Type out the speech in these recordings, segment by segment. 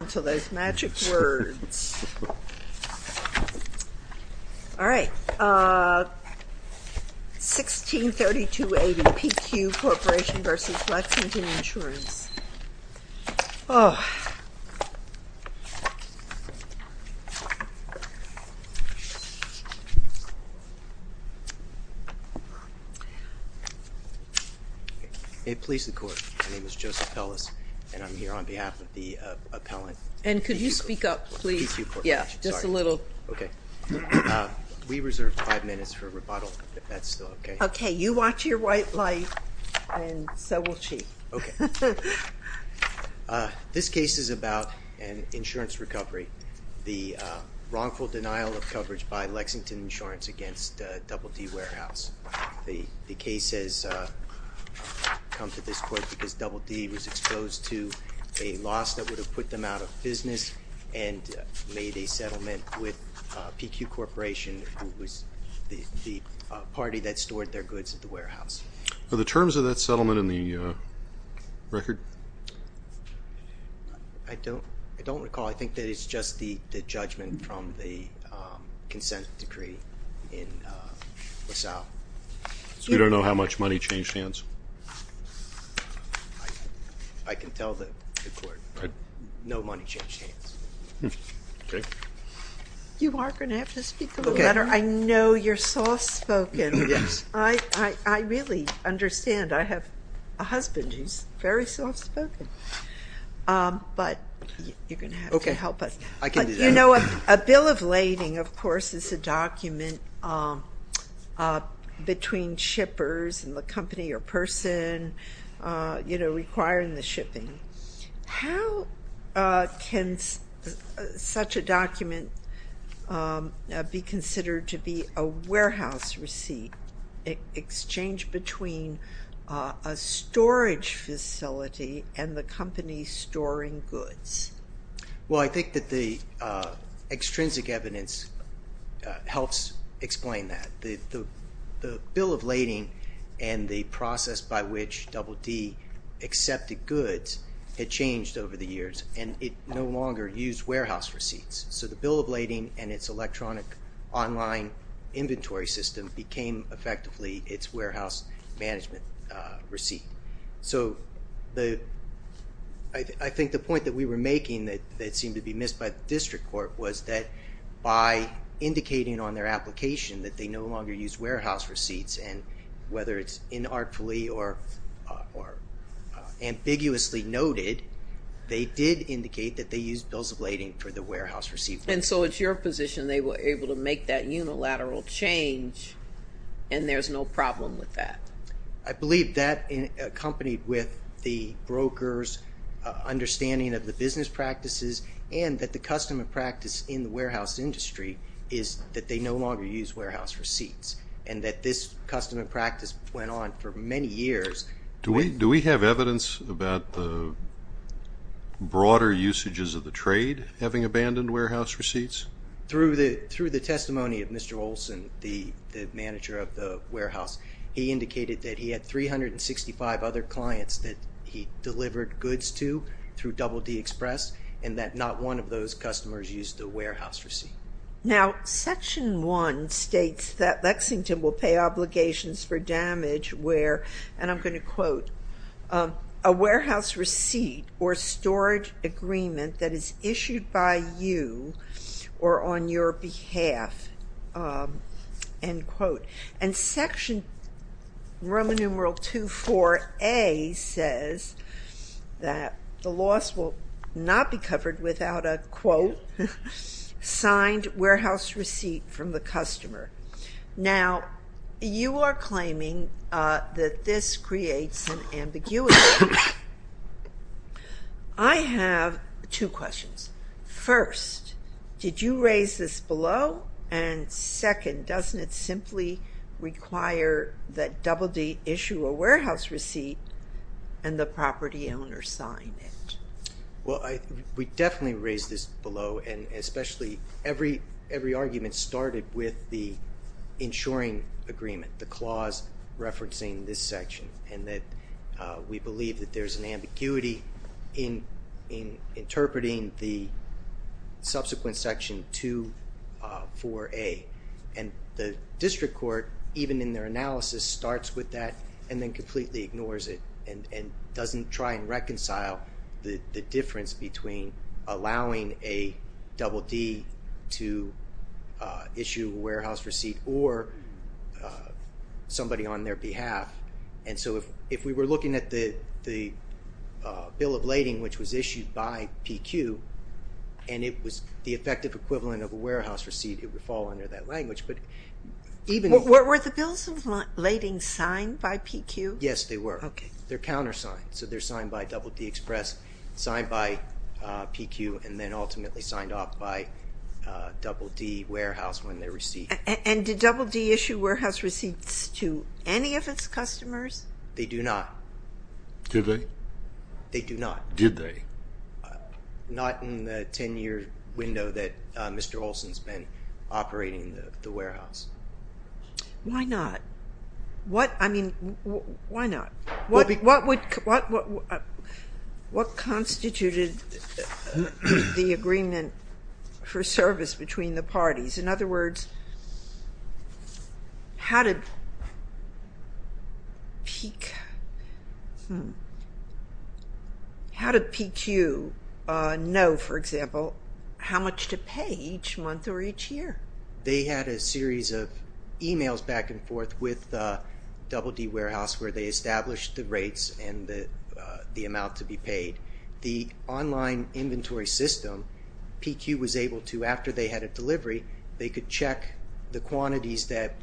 All right, 1632A v. PQ Corporation v. Lexington Insurance. It please the court, my name is Joseph Ellis and I'm here on behalf of the Lexington Insurance Company. And could you speak up please? PQ Corporation. PQ Corporation, sorry. Yeah, just a little. Okay. We reserve five minutes for rebuttal if that's still okay. Okay, you watch your white light and so will she. Okay. This case is about an insurance recovery, the wrongful denial of coverage by Lexington Insurance against Double D Warehouse. The case has come to this court because Double D was exposed to a loss that would have put them out of business and made a settlement with PQ Corporation, who was the party that stored their goods at the warehouse. Are the terms of that settlement in the record? I don't recall. I think that it's just the judgment from the consent decree in LaSalle. So you don't know how much money changed hands? I can tell the court no money changed hands. Okay. You are going to have to speak a little better. I know you're soft-spoken. Yes. I really understand. I have a husband who's very soft-spoken. But you're going to have to help us. Okay. I can do that. You know, a bill of lading, of course, is a document between shippers and the company or person requiring the shipping. How can such a document be considered to be a warehouse receipt, exchanged between a storage facility and the company storing goods? Well, I think that the extrinsic evidence helps explain that. The bill of lading and the process by which Double D accepted goods had changed over the years, and it no longer used warehouse receipts. So the bill of lading and its electronic online inventory system became effectively its warehouse management receipt. So I think the point that we were making that seemed to be missed by the district court was that by indicating on their application that they no longer used warehouse receipts, and whether it's inartfully or ambiguously noted, they did indicate that they used bills of lading for the warehouse receipt. And so it's your position they were able to make that unilateral change, and there's no problem with that? I believe that, accompanied with the broker's understanding of the business practices and that the custom and practice in the warehouse industry is that they no longer use warehouse receipts and that this custom and practice went on for many years. Do we have evidence about the broader usages of the trade having abandoned warehouse receipts? Through the testimony of Mr. Olson, the manager of the warehouse, he indicated that he had 365 other clients that he delivered goods to through Double D Express, and that not one of those customers used the warehouse receipt. Now, Section 1 states that Lexington will pay obligations for damage where and I'm going to quote, a warehouse receipt or storage agreement that is issued by you or on your behalf, end quote. And Section Roman numeral 24A says that the loss will not be covered without a, quote, signed warehouse receipt from the customer. Now, you are claiming that this creates an ambiguity. I have two questions. First, did you raise this below? And second, doesn't it simply require that Double D issue a warehouse receipt and the property owner sign it? Well, we definitely raised this below, and especially every argument started with the insuring agreement, the clause referencing this section, and that we believe that there's an ambiguity in interpreting the subsequent Section 24A. And the district court, even in their analysis, starts with that and then completely ignores it and doesn't try and reconcile the difference between allowing a Double D to issue a warehouse receipt or somebody on their behalf. And so if we were looking at the bill of lading, which was issued by PQ, and it was the effective equivalent of a warehouse receipt, it would fall under that language. Were the bills of lading signed by PQ? Yes, they were. They're countersigned, so they're signed by Double D Express, signed by PQ, and then ultimately signed off by Double D Warehouse when they receive it. And did Double D issue warehouse receipts to any of its customers? They do not. Did they? They do not. Did they? Not in the 10-year window that Mr. Olson's been operating the warehouse. Why not? I mean, why not? What constituted the agreement for service between the parties? In other words, how did PQ know, for example, how much to pay each month or each year? They had a series of emails back and forth with Double D Warehouse where they established the rates and the amount to be paid. The online inventory system, PQ was able to, after they had a delivery, they could check the quantities that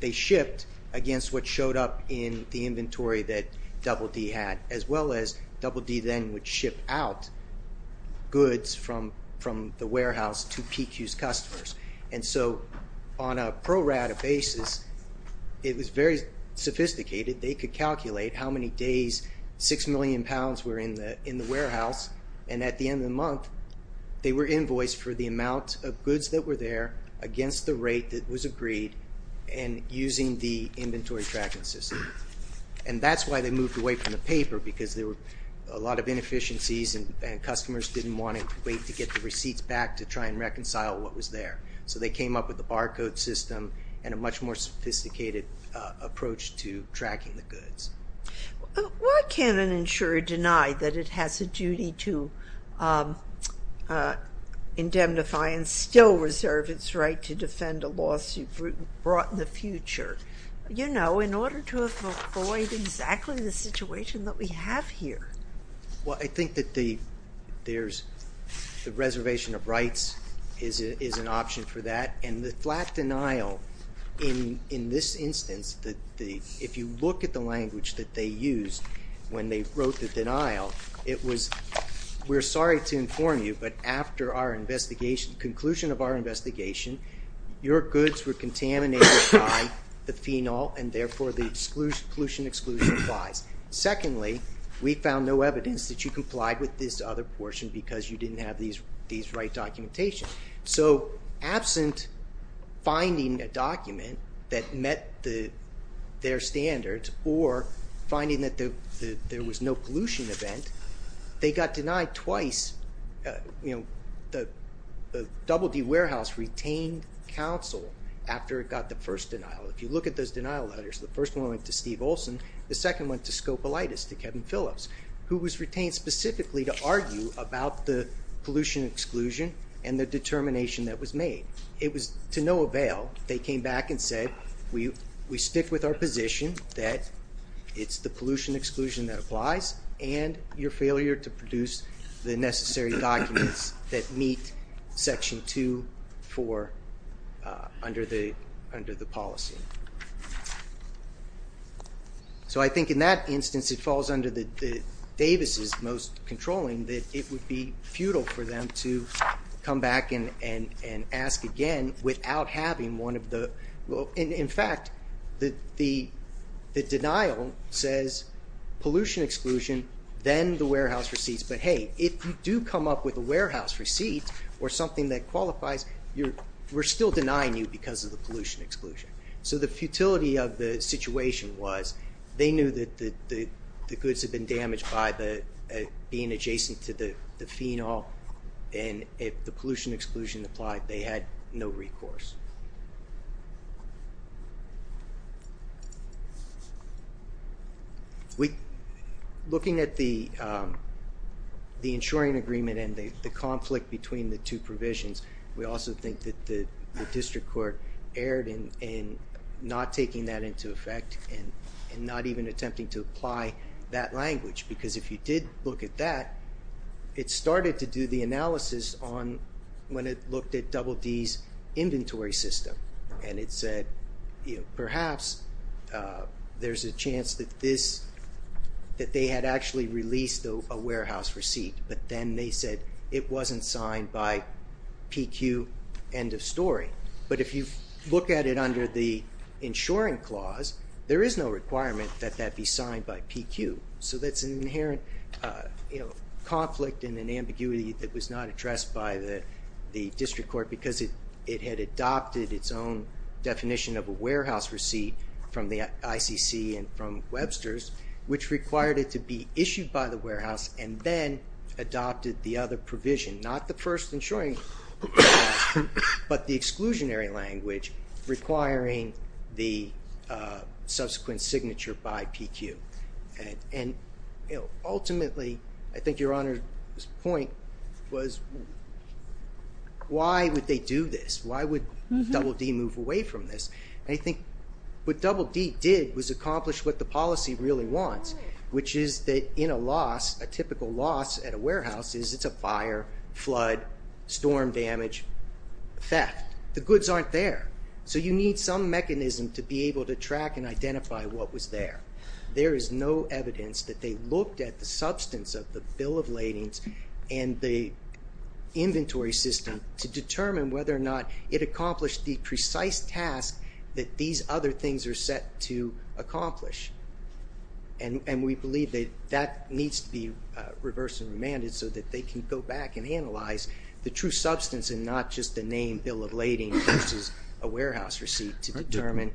they shipped against what showed up in the inventory that Double D had, as well as Double D then would ship out goods from the warehouse to PQ's customers. And so on a pro rata basis, it was very sophisticated. They could calculate how many days 6 million pounds were in the warehouse, and at the end of the month they were invoiced for the amount of goods that were there against the rate that was agreed and using the inventory tracking system. And that's why they moved away from the paper, because there were a lot of inefficiencies and customers didn't want to wait to get the receipts back to try and reconcile what was there. So they came up with the barcode system and a much more sophisticated approach to tracking the goods. Why can't an insurer deny that it has a duty to indemnify and still reserve its right to defend a lawsuit brought in the future? You know, in order to avoid exactly the situation that we have here. Well, I think that the reservation of rights is an option for that, and the flat denial in this instance, if you look at the language that they used when they wrote the denial, it was, we're sorry to inform you, but after our investigation, conclusion of our investigation, your goods were contaminated by the phenol, and therefore the exclusion, exclusion, exclusion applies. Secondly, we found no evidence that you complied with this other portion because you didn't have these right documentation. So absent finding a document that met their standards or finding that there was no pollution event, they got denied twice, you know, the Double D Warehouse retained counsel after it got the first denial. If you look at those denial letters, the first one went to Steve Olson, the second went to Scopolitis, to Kevin Phillips, who was retained specifically to argue about the pollution exclusion and the determination that was made. It was to no avail. They came back and said, we stick with our position that it's the pollution exclusion that applies and your failure to produce the necessary documents that meet Section 2.4 under the policy. So I think in that instance, it falls under Davis' most controlling that it would be futile for them to come back and ask again without having one of the... In fact, the denial says pollution exclusion, then the warehouse receipts, but hey, if you do come up with a warehouse receipt or something that qualifies, we're still denying you because of the pollution exclusion. So the futility of the situation was they knew that the goods had been damaged by being adjacent to the phenol and if the pollution exclusion applied, they had no recourse. Looking at the insuring agreement and the conflict between the two provisions, we also think that the district court erred in not taking that into effect and not even attempting to apply that language because if you did look at that, it started to do the analysis when it looked at Double D's inventory system and it said perhaps there's a chance that they had actually released a warehouse receipt, but then they said it wasn't signed by PQ, end of story. But if you look at it under the insuring clause, there is no requirement that that be signed by PQ. So that's an inherent conflict and an ambiguity that was not addressed by the district court because it had adopted its own definition of a warehouse receipt from the ICC and from Webster's, which required it to be issued by the warehouse and then adopted the other provision. Not the first insuring clause, but the exclusionary language requiring the subsequent signature by PQ. And ultimately, I think Your Honor's point was why would they do this? Why would Double D move away from this? And I think what Double D did was accomplish what the policy really wants, which is that in a loss, a typical loss at a warehouse is it's a fire, flood, storm damage, theft. The goods aren't there, so you need some mechanism to be able to track and identify what was there. There is no evidence that they looked at the substance of the bill of ladings and the inventory system to determine whether or not it accomplished the precise task that these other things are set to accomplish. And we believe that that needs to be reversed and remanded so that they can go back and analyze the true substance and not just the name bill of lading versus a warehouse receipt to determine.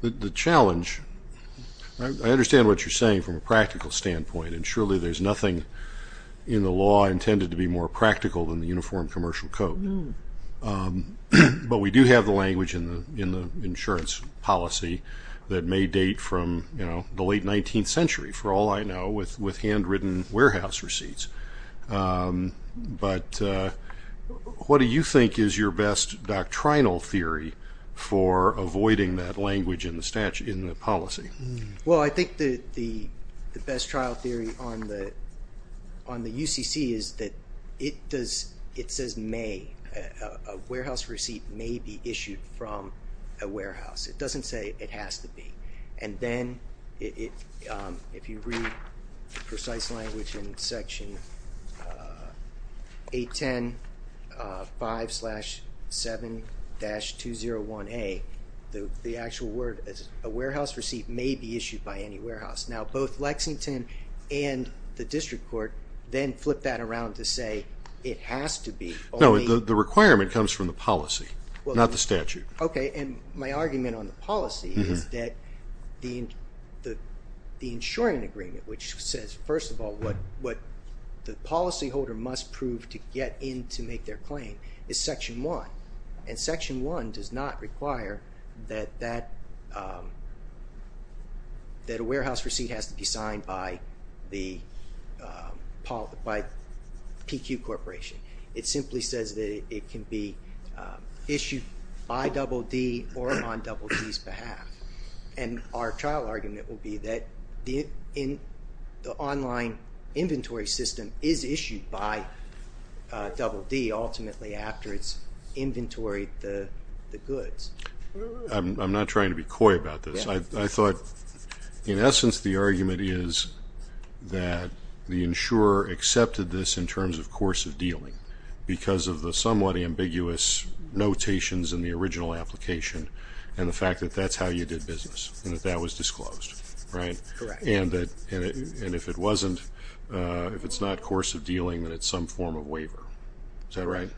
The challenge, I understand what you're saying from a practical standpoint, and surely there's nothing in the law intended to be more practical than the Uniform Commercial Code. But we do have the language in the insurance policy that may date from the late 19th century, for all I know, with handwritten warehouse receipts. But what do you think is your best doctrinal theory for avoiding that language in the statute, in the policy? Well, I think the best trial theory on the UCC is that it says may. A warehouse receipt may be issued from a warehouse. It doesn't say it has to be. And then if you read precise language in Section 810.5-7-201A, the actual word is a warehouse receipt may be issued by any warehouse. Now, both Lexington and the District Court then flip that around to say it has to be. No, the requirement comes from the policy, not the statute. Okay, and my argument on the policy is that the insuring agreement, which says, first of all, what the policyholder must prove to get in to make their claim, is Section 1. And Section 1 does not require that a warehouse receipt has to be signed by PQ Corporation. It simply says that it can be issued by DD or on DD's behalf. And our trial argument will be that the online inventory system is issued by DD ultimately after it's inventoried the goods. I'm not trying to be coy about this. I thought, in essence, the argument is that the insurer accepted this in terms of course of dealing because of the somewhat ambiguous notations in the original application and the fact that that's how you did business and that that was disclosed, right? Correct. And if it's not course of dealing, then it's some form of waiver. Is that right?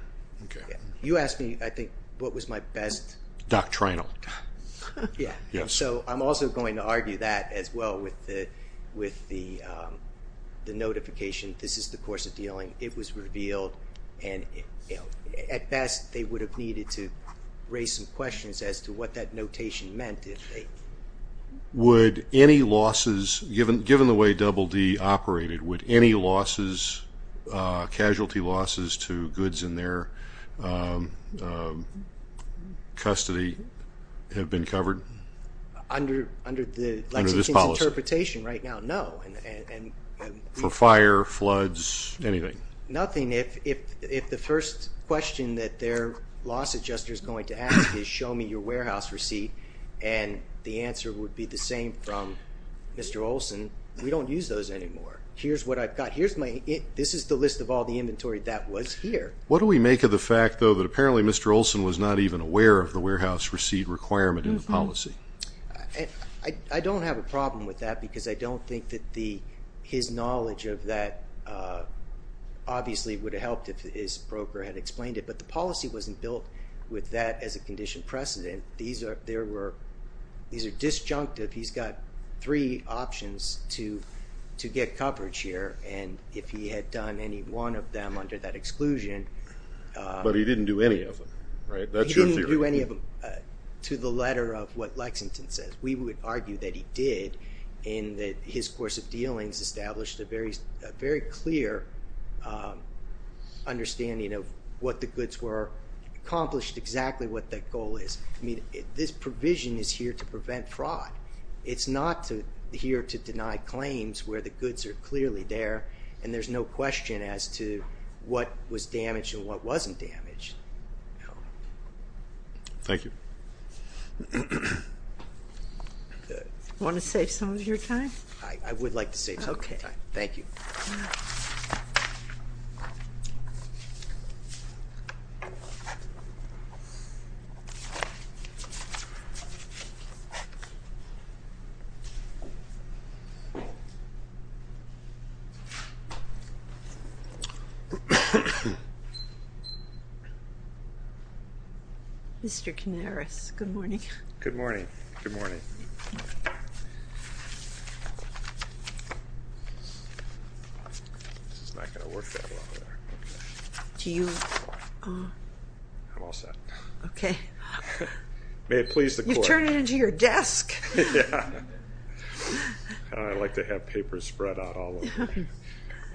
Okay. You asked me, I think, what was my best... Doctrinal. Yeah, and so I'm also going to argue that as well with the notification this is the course of dealing, it was revealed, and at best they would have needed to raise some questions as to what that notation meant. Would any losses, given the way DD operated, would any casualties losses to goods in their custody have been covered? Under the Lexington's interpretation right now, no. For fire, floods, anything? Nothing. If the first question that their loss adjuster is going to ask is, show me your warehouse receipt, and the answer would be the same from Mr. Olson, we don't use those anymore. Here's what I've got. This is the list of all the inventory that was here. What do we make of the fact, though, that apparently Mr. Olson was not even aware of the warehouse receipt requirement in the policy? I don't have a problem with that because I don't think that his knowledge of that obviously would have helped if his broker had explained it, but the policy wasn't built with that as a condition precedent. These are disjunctive. He's got three options to get coverage here, and if he had done any one of them under that exclusion... But he didn't do any of them, right? He didn't do any of them to the letter of what Lexington says. We would argue that he did, and that his course of dealings established a very clear understanding of what the goods were, accomplished exactly what that goal is. I mean, this provision is here to prevent fraud. It's not here to deny claims where the goods are clearly there, and there's no question as to what was damaged and what wasn't damaged. Thank you. Want to save some of your time? I would like to save some of my time. Thank you. Mr. Canaris, good morning. Good morning. This is not going to work that well. Do you... I'm all set. Okay. You've turned it into your desk. Yeah. I like to have papers spread out all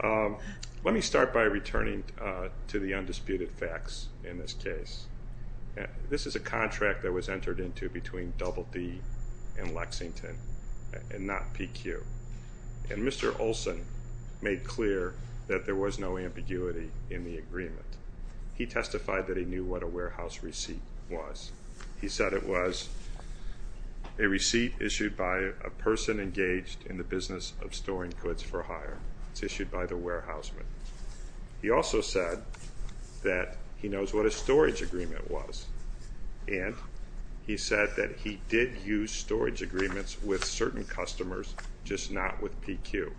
over. Let me start by returning to the undisputed facts in this case. This is a contract that was entered into between Double D and Lexington and not PQ. And Mr. Olson made clear that there was no ambiguity in the agreement. He testified that he knew what a warehouse receipt was. He said it was a receipt issued by a person engaged in the business of storing goods for hire. It's issued by the warehouseman. He also said that he knows what a storage agreement was, and he said that he did use storage agreements with certain customers, just not with PQ.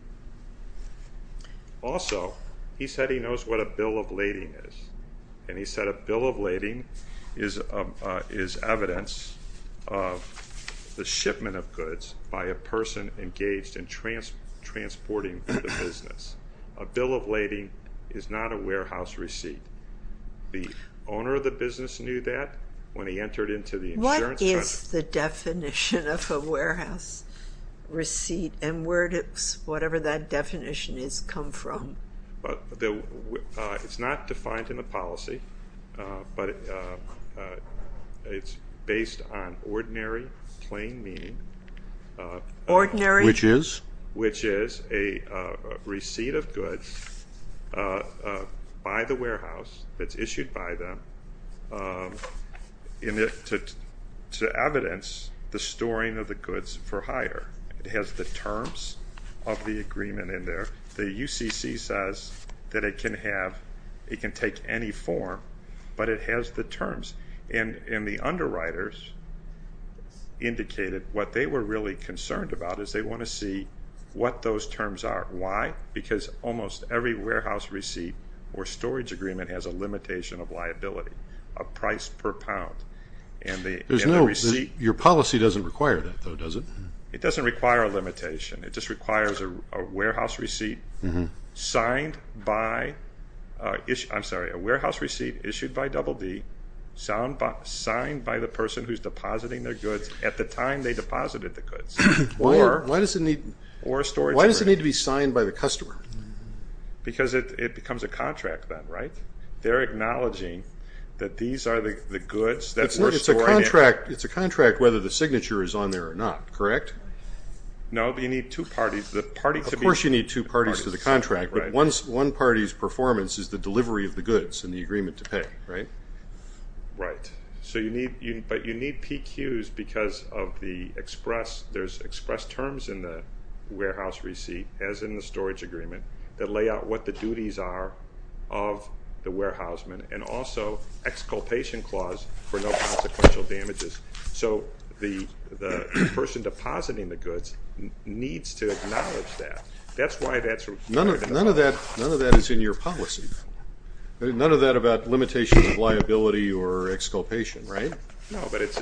Also, he said he knows what a bill of lading is, and he said a bill of lading is evidence of the shipment of goods by a person engaged in transporting the business. A bill of lading is not a warehouse receipt. The owner of the business knew that when he entered into the insurance... What is the definition of a warehouse receipt, and where does whatever that definition has come from? It's not defined in the policy, but it's based on ordinary plain meaning. Ordinary? Which is? Which is a receipt of goods by the warehouse that's issued by them to evidence the storing of the goods for hire. It has the terms of the agreement in there. The UCC says that it can take any form, but it has the terms. And the underwriters indicated what they were really concerned about is they want to see what those terms are. Why? Because almost every warehouse receipt or storage agreement has a limitation of liability, a price per pound. Your policy doesn't require that, though, does it? It doesn't require a limitation. It just requires a warehouse receipt issued by Double D signed by the person who's depositing their goods at the time they deposited the goods. Or a storage agreement. Why does it need to be signed by the customer? Because it becomes a contract then, right? They're acknowledging that these are the goods that were stored in. It's a contract whether the signature is on there or not, correct? No, but you need two parties. Of course you need two parties to the contract, but one party's performance is the delivery of the goods and the agreement to pay, right? Right. But you need PQs because there's express terms in the warehouse receipt, as in the storage agreement, that lay out what the duties are of the warehouseman and also exculpation clause for no consequential damages. So the person depositing the goods needs to acknowledge that. That's why that's required. None of that is in your policy. None of that about limitations of liability or exculpation, right? No, but it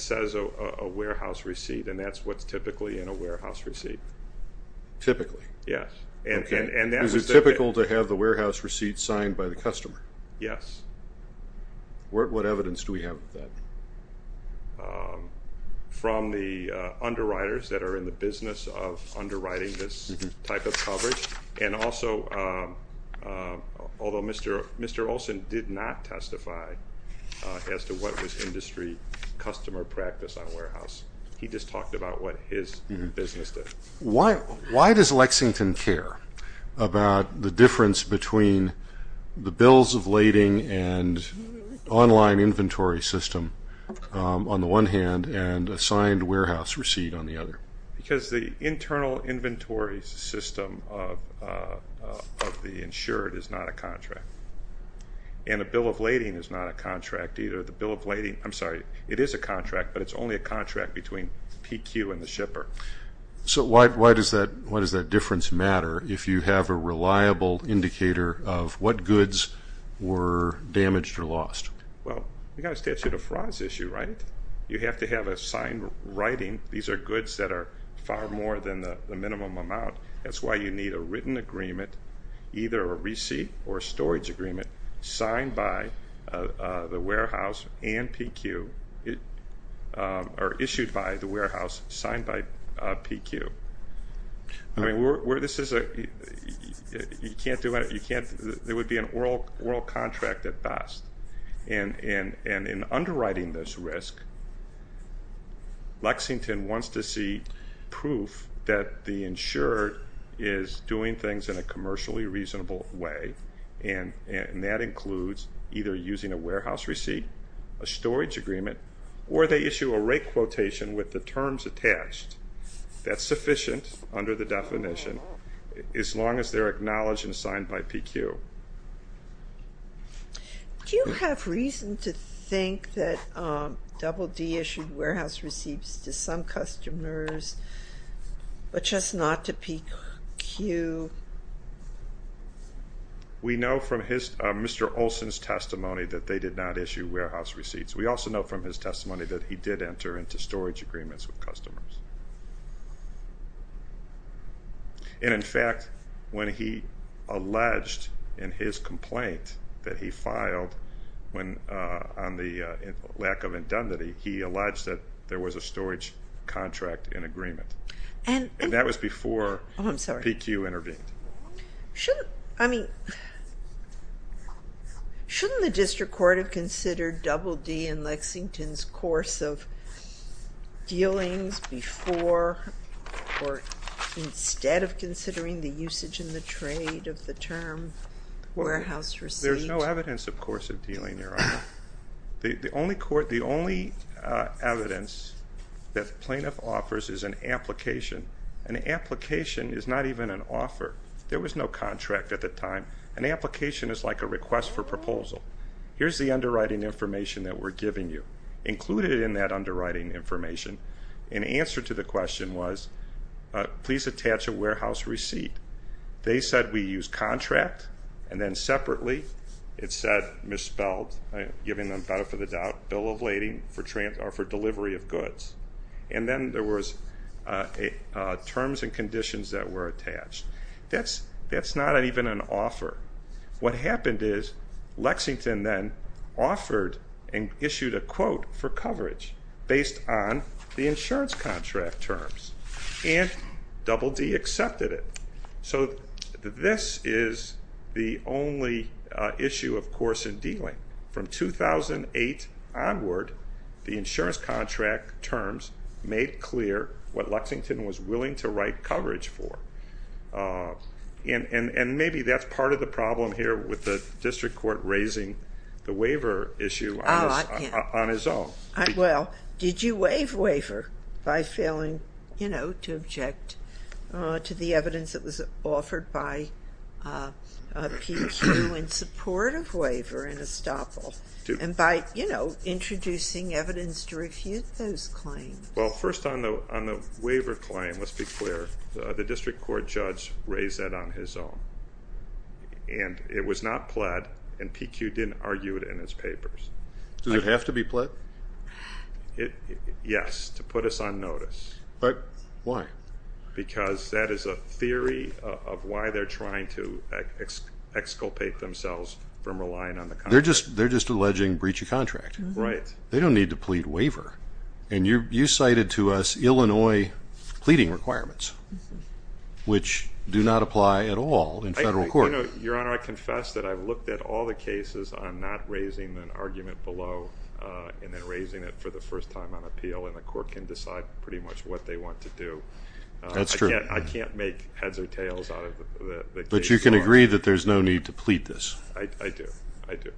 says a warehouse receipt, and that's what's typically in a warehouse receipt. Typically? Yes. Okay. Is it typical to have the warehouse receipt signed by the customer? Yes. What evidence do we have of that? From the underwriters that are in the business of underwriting this type of coverage and also although Mr. Olson did not testify as to what was industry customer practice on warehouse. He just talked about what his business did. Why does Lexington care about the difference between the bills of lading and online inventory system on the one hand and a signed warehouse receipt on the other? Because the internal inventory system of the insured is not a contract. And a bill of lading is not a contract either. The bill of lading, I'm sorry, it is a contract, but it's only a contract between PQ and the shipper. So why does that difference matter if you have a reliable indicator of what Well, you've got a statute of frauds issue, right? You have to have a signed writing. These are goods that are far more than the minimum amount. That's why you need a written agreement, either a receipt or a storage agreement, signed by the warehouse and PQ, or issued by the warehouse, signed by PQ. I mean, there would be an oral contract at best. And in underwriting this risk, Lexington wants to see proof that the insured is doing things in a commercially reasonable way, and that includes either using a warehouse receipt, a storage agreement, or they issue a rate quotation with the terms attached. That's sufficient under the definition as long as they're acknowledged and signed by PQ. Do you have reason to think that Double D issued warehouse receipts to some customers, but just not to PQ? We know from Mr. Olson's testimony that they did not issue warehouse receipts. We also know from his testimony that he did enter into storage agreements with customers. And in fact, when he alleged in his complaint that he filed on the lack of indemnity, he alleged that there was a storage contract in agreement. And that was before PQ intervened. I mean, shouldn't the district court have considered Double D and Lexington's course of dealings before or instead of considering the usage in the trade of the term warehouse receipt? There's no evidence, of course, of dealing, Your Honor. The only evidence that the plaintiff offers is an application. An application is not even an offer. There was no contract at the time. An application is like a request for proposal. Here's the underwriting information that we're giving you. Included in that underwriting information, an answer to the question was, please attach a warehouse receipt. They said we use contract, and then separately it said, misspelled, giving them better for the doubt, bill of lading for delivery of goods. And then there was terms and conditions that were attached. That's not even an offer. What happened is Lexington then offered and issued a quote for coverage based on the insurance contract terms, and Double D accepted it. So this is the only issue, of course, in dealing. From 2008 onward, the insurance contract terms made clear what Lexington was willing to write coverage for. And maybe that's part of the problem here with the district court raising the waiver issue on its own. Well, did you waive waiver by failing to object to the evidence that was offered by a PQ in support of waiver in Estoppel, and by introducing evidence to refute those claims? Well, first on the waiver claim, let's be clear. The district court judge raised that on his own, and it was not pled, and PQ didn't argue it in his papers. Does it have to be pled? Yes, to put us on notice. Why? Because that is a theory of why they're trying to exculpate themselves from relying on the contract. They're just alleging breach of contract. Right. They don't need to plead waiver. And you cited to us Illinois pleading requirements, which do not apply at all in federal court. Your Honor, I confess that I've looked at all the cases. I'm not raising an argument below and then raising it for the first time on appeal, and the court can decide pretty much what they want to do. That's true. I can't make heads or tails out of the case. But you can agree that there's no need to plead this? I do. I do.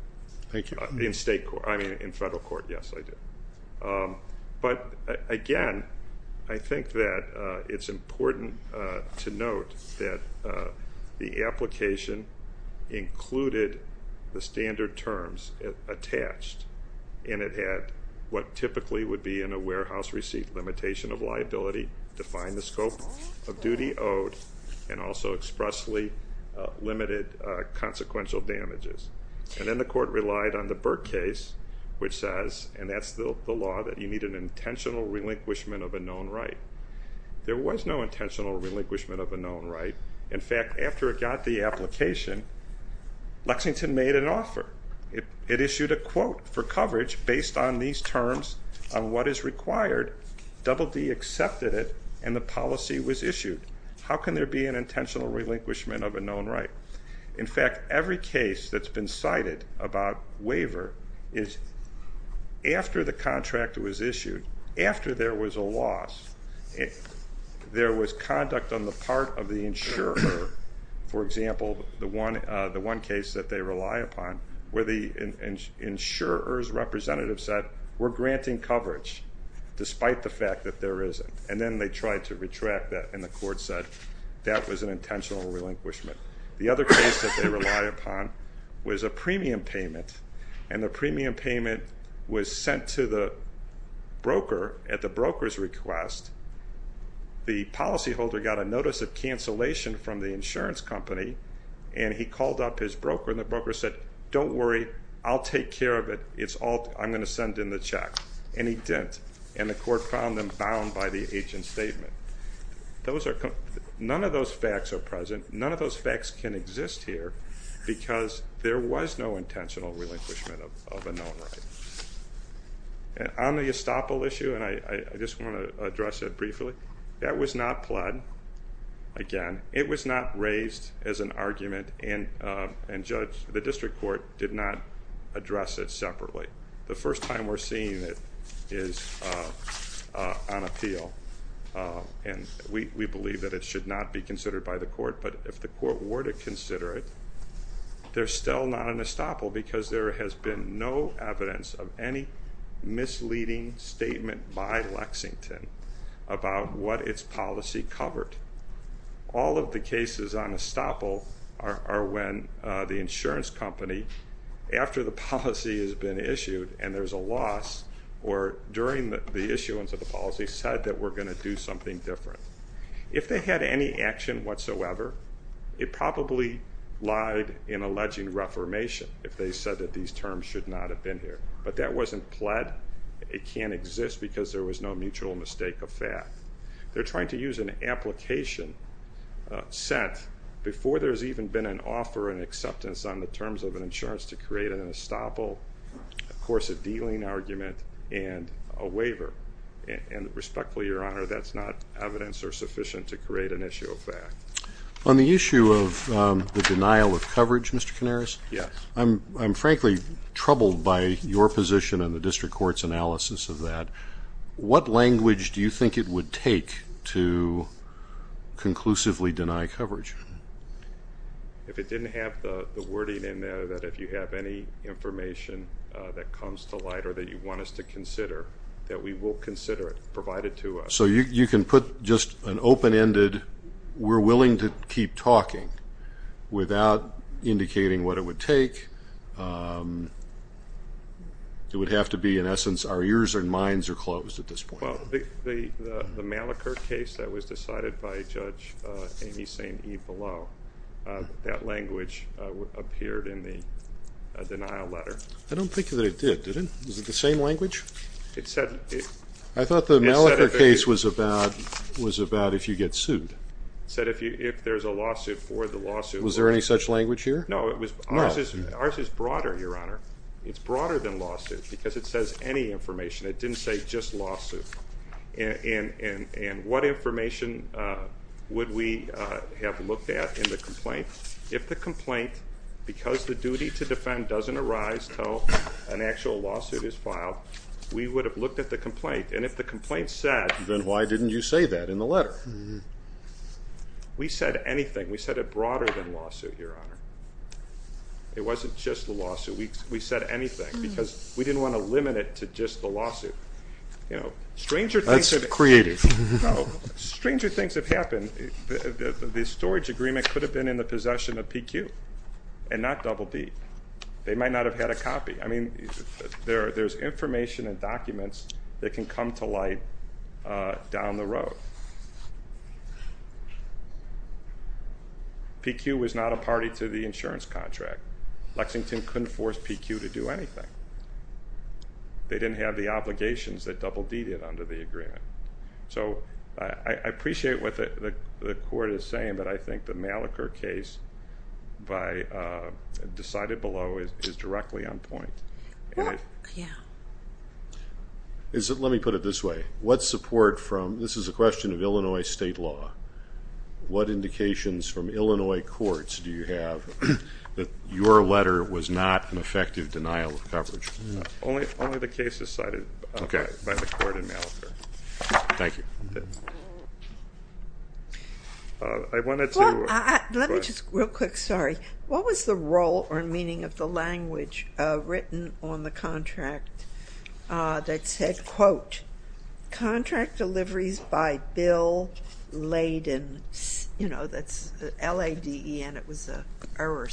Thank you. In federal court, yes, I do. But, again, I think that it's important to note that the application included the standard terms attached, and it had what typically would be in a warehouse receipt, limitation of liability, defined the scope of duty owed, and also expressly limited consequential damages. And then the court relied on the Burke case, which says, and that's the law, that you need an intentional relinquishment of a known right. There was no intentional relinquishment of a known right. In fact, after it got the application, Lexington made an offer. It issued a quote for coverage based on these terms on what is required. Double D accepted it, and the policy was issued. How can there be an intentional relinquishment of a known right? In fact, every case that's been cited about waiver is after the contract was issued, after there was a loss, there was conduct on the part of the insurer. For example, the one case that they rely upon, where the insurer's representative said, we're granting coverage despite the fact that there isn't. And then they tried to retract that, and the court said that was an intentional relinquishment. The other case that they rely upon was a premium payment, and the premium payment was sent to the broker at the broker's request. The policyholder got a notice of cancellation from the insurance company, and he called up his broker, and the broker said, don't worry, I'll take care of it. I'm going to send in the check. And he didn't, and the court found them bound by the agent's statement. None of those facts are present. None of those facts can exist here because there was no intentional relinquishment of a known right. On the estoppel issue, and I just want to address it briefly, that was not pled. Again, it was not raised as an argument, and the district court did not address it separately. The first time we're seeing it is on appeal, and we believe that it should not be considered by the court. But if the court were to consider it, there's still not an estoppel because there has been no evidence of any misleading statement by Lexington about what its policy covered. All of the cases on estoppel are when the insurance company, after the policy has been issued and there's a loss, or during the issuance of the policy, said that we're going to do something different. If they had any action whatsoever, it probably lied in alleging reformation if they said that these terms should not have been here. But that wasn't pled. It can't exist because there was no mutual mistake of fact. They're trying to use an application set before there's even been an offer and acceptance on the terms of an insurance to create an estoppel, of course a dealing argument, and a waiver. And respectfully, Your Honor, that's not evidence or sufficient to create an issue of fact. On the issue of the denial of coverage, Mr. Canaris, I'm frankly troubled by your position and the district court's analysis of that. What language do you think it would take to conclusively deny coverage? If it didn't have the wording in there that if you have any information that comes to light or that you want us to consider, that we will consider it provided to us. So you can put just an open-ended, we're willing to keep talking without indicating what it would take. It would have to be, in essence, our ears and minds are closed at this point. Well, the Malachur case that was decided by Judge Amy St. Eve Below, that language appeared in the denial letter. I don't think that it did, did it? Was it the same language? I thought the Malachur case was about if you get sued. It said if there's a lawsuit for the lawsuit. Was there any such language here? No, ours is broader, Your Honor. It's broader than lawsuits because it says any information. It didn't say just lawsuit. And what information would we have looked at in the complaint? If the complaint, because the duty to defend doesn't arise until an actual lawsuit is filed, we would have looked at the complaint. And if the complaint said... Then why didn't you say that in the letter? We said anything. We said it broader than lawsuit, Your Honor. It wasn't just the lawsuit. We said anything because we didn't want to limit it to just the lawsuit. That's creative. Stranger things have happened. The storage agreement could have been in the possession of PQ and not BB. They might not have had a copy. I mean, there's information and documents that can come to light down the road. PQ was not a party to the insurance contract. Lexington couldn't force PQ to do anything. They didn't have the obligations that Double D did under the agreement. So I appreciate what the Court is saying, but I think the Malachur case by decided below is directly on point. Let me put it this way. What support from... This is a question of Illinois state law. What indications from Illinois courts do you have that your letter was not an effective denial of coverage? Only the cases cited by the Court in Malachur. Thank you. I wanted to... Let me just real quick. Sorry. What was the role or meaning of the language written on the contract that said, quote, contract deliveries by bill laden? You know, that's L-A-D-E-N. It was an error.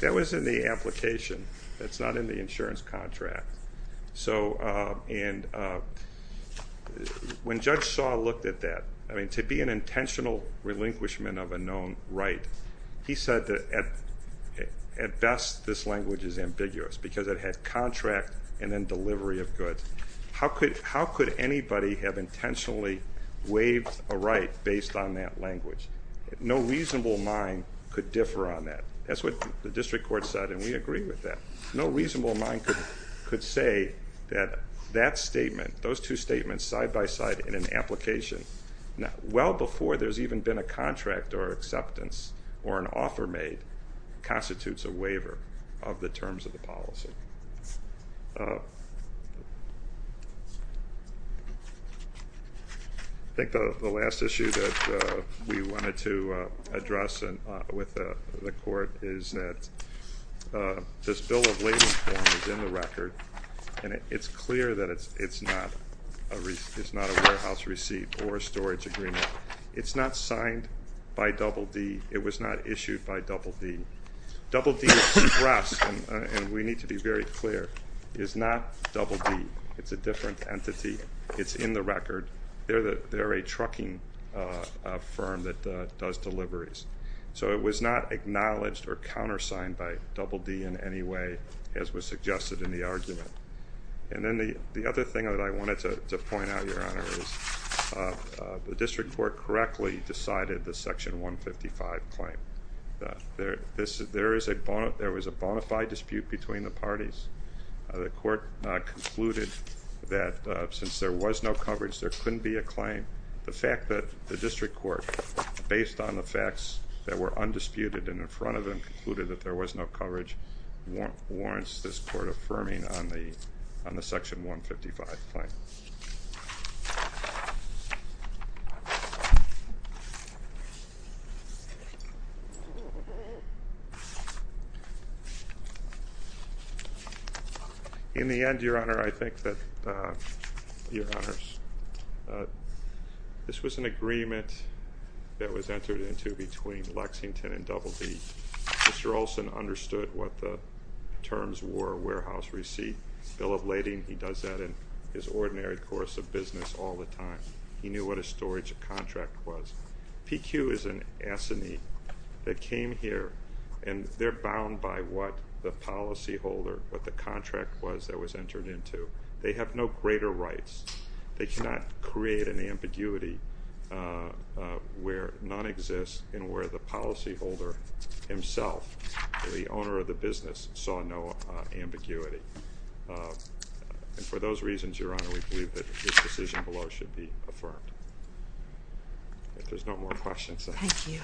That was in the application. That's not in the insurance contract. So when Judge Saw looked at that, I mean, to be an intentional relinquishment of a known right, he said that at best this language is ambiguous because it had contract and then delivery of goods. How could anybody have intentionally waived a right based on that language? No reasonable mind could differ on that. That's what the district court said, and we agree with that. No reasonable mind could say that that statement, those two statements side by side in an application, well before there's even been a contract or acceptance or an offer made constitutes a waiver of the terms of the policy. I think the last issue that we wanted to address with the court is that this bill of lading form is in the record, and it's clear that it's not a warehouse receipt or a storage agreement. It's not signed by Double D. It was not issued by Double D. Double D Express, and we need to be very clear, is not Double D. It's a different entity. It's in the record. They're a trucking firm that does deliveries. So it was not acknowledged or countersigned by Double D in any way, as was suggested in the argument. And then the other thing that I wanted to point out, Your Honor, is the district court correctly decided the Section 155 claim. There was a bona fide dispute between the parties. The court concluded that since there was no coverage, there couldn't be a claim. The fact that the district court, based on the facts that were undisputed warrants this court affirming on the Section 155 claim. In the end, Your Honor, I think that, Your Honors, this was an agreement that was entered into between Lexington and Double D. Mr. Olson understood what the terms were, warehouse receipt, bill of lading. He does that in his ordinary course of business all the time. He knew what a storage contract was. PQ is an assinee that came here, and they're bound by what the policyholder, what the contract was that was entered into. They have no greater rights. They cannot create an ambiguity where none exists and where the policyholder himself, the owner of the business, saw no ambiguity. And for those reasons, Your Honor, we believe that this decision below should be affirmed. If there's no more questions. Thank you.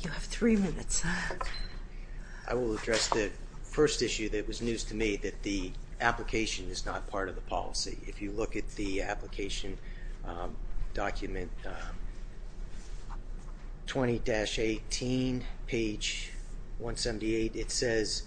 You have three minutes. I will address the first issue that was news to me, that the application is not part of the policy. If you look at the application document, 20-18, page 178, it says,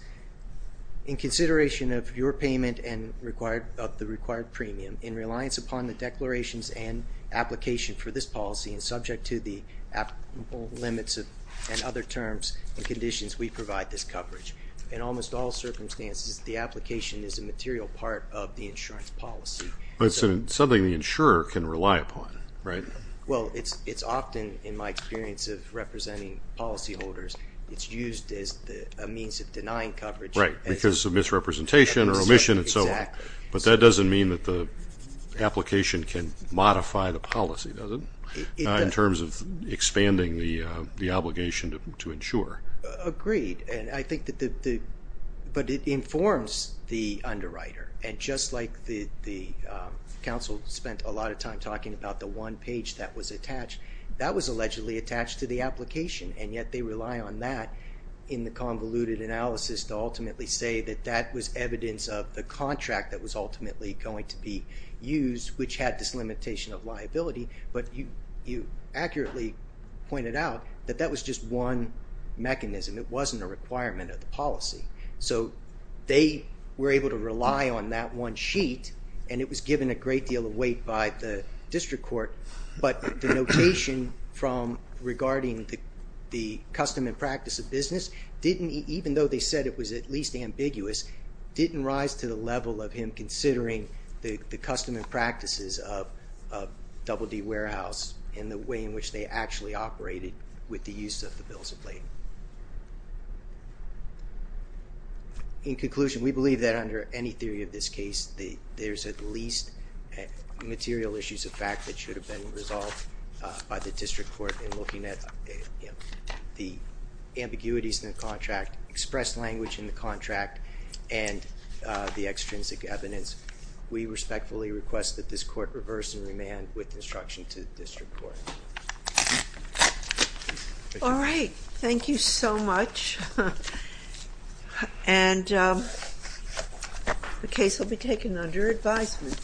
in consideration of your payment and the required premium, in reliance upon the declarations and application for this policy and subject to the applicable limits and other terms and conditions, we provide this coverage. In almost all circumstances, the application is a material part of the insurance policy. But it's something the insurer can rely upon, right? Well, it's often, in my experience of representing policyholders, it's used as a means of denying coverage. Right, because of misrepresentation or omission and so on. Exactly. But that doesn't mean that the application can modify the policy, does it? In terms of expanding the obligation to insure. Agreed. But it informs the underwriter. And just like the council spent a lot of time talking about the one page that was attached, that was allegedly attached to the application, and yet they rely on that in the convoluted analysis to ultimately say that that was evidence of the contract that was ultimately going to be used, which had this limitation of liability. But you accurately pointed out that that was just one mechanism. It wasn't a requirement of the policy. So they were able to rely on that one sheet, and it was given a great deal of weight by the district court. But the notation from regarding the custom and practice of business, even though they said it was at least ambiguous, didn't rise to the level of him considering the custom and practices of Double D Warehouse and the way in which they actually operated with the use of the bills of lading. In conclusion, we believe that under any theory of this case, there's at least material issues of fact that should have been resolved by the district court in looking at the ambiguities in the contract, expressed language in the contract, and the extrinsic evidence. We respectfully request that this court reverse and remand with instruction to the district court. All right. Thank you so much. And the case will be taken under advisement.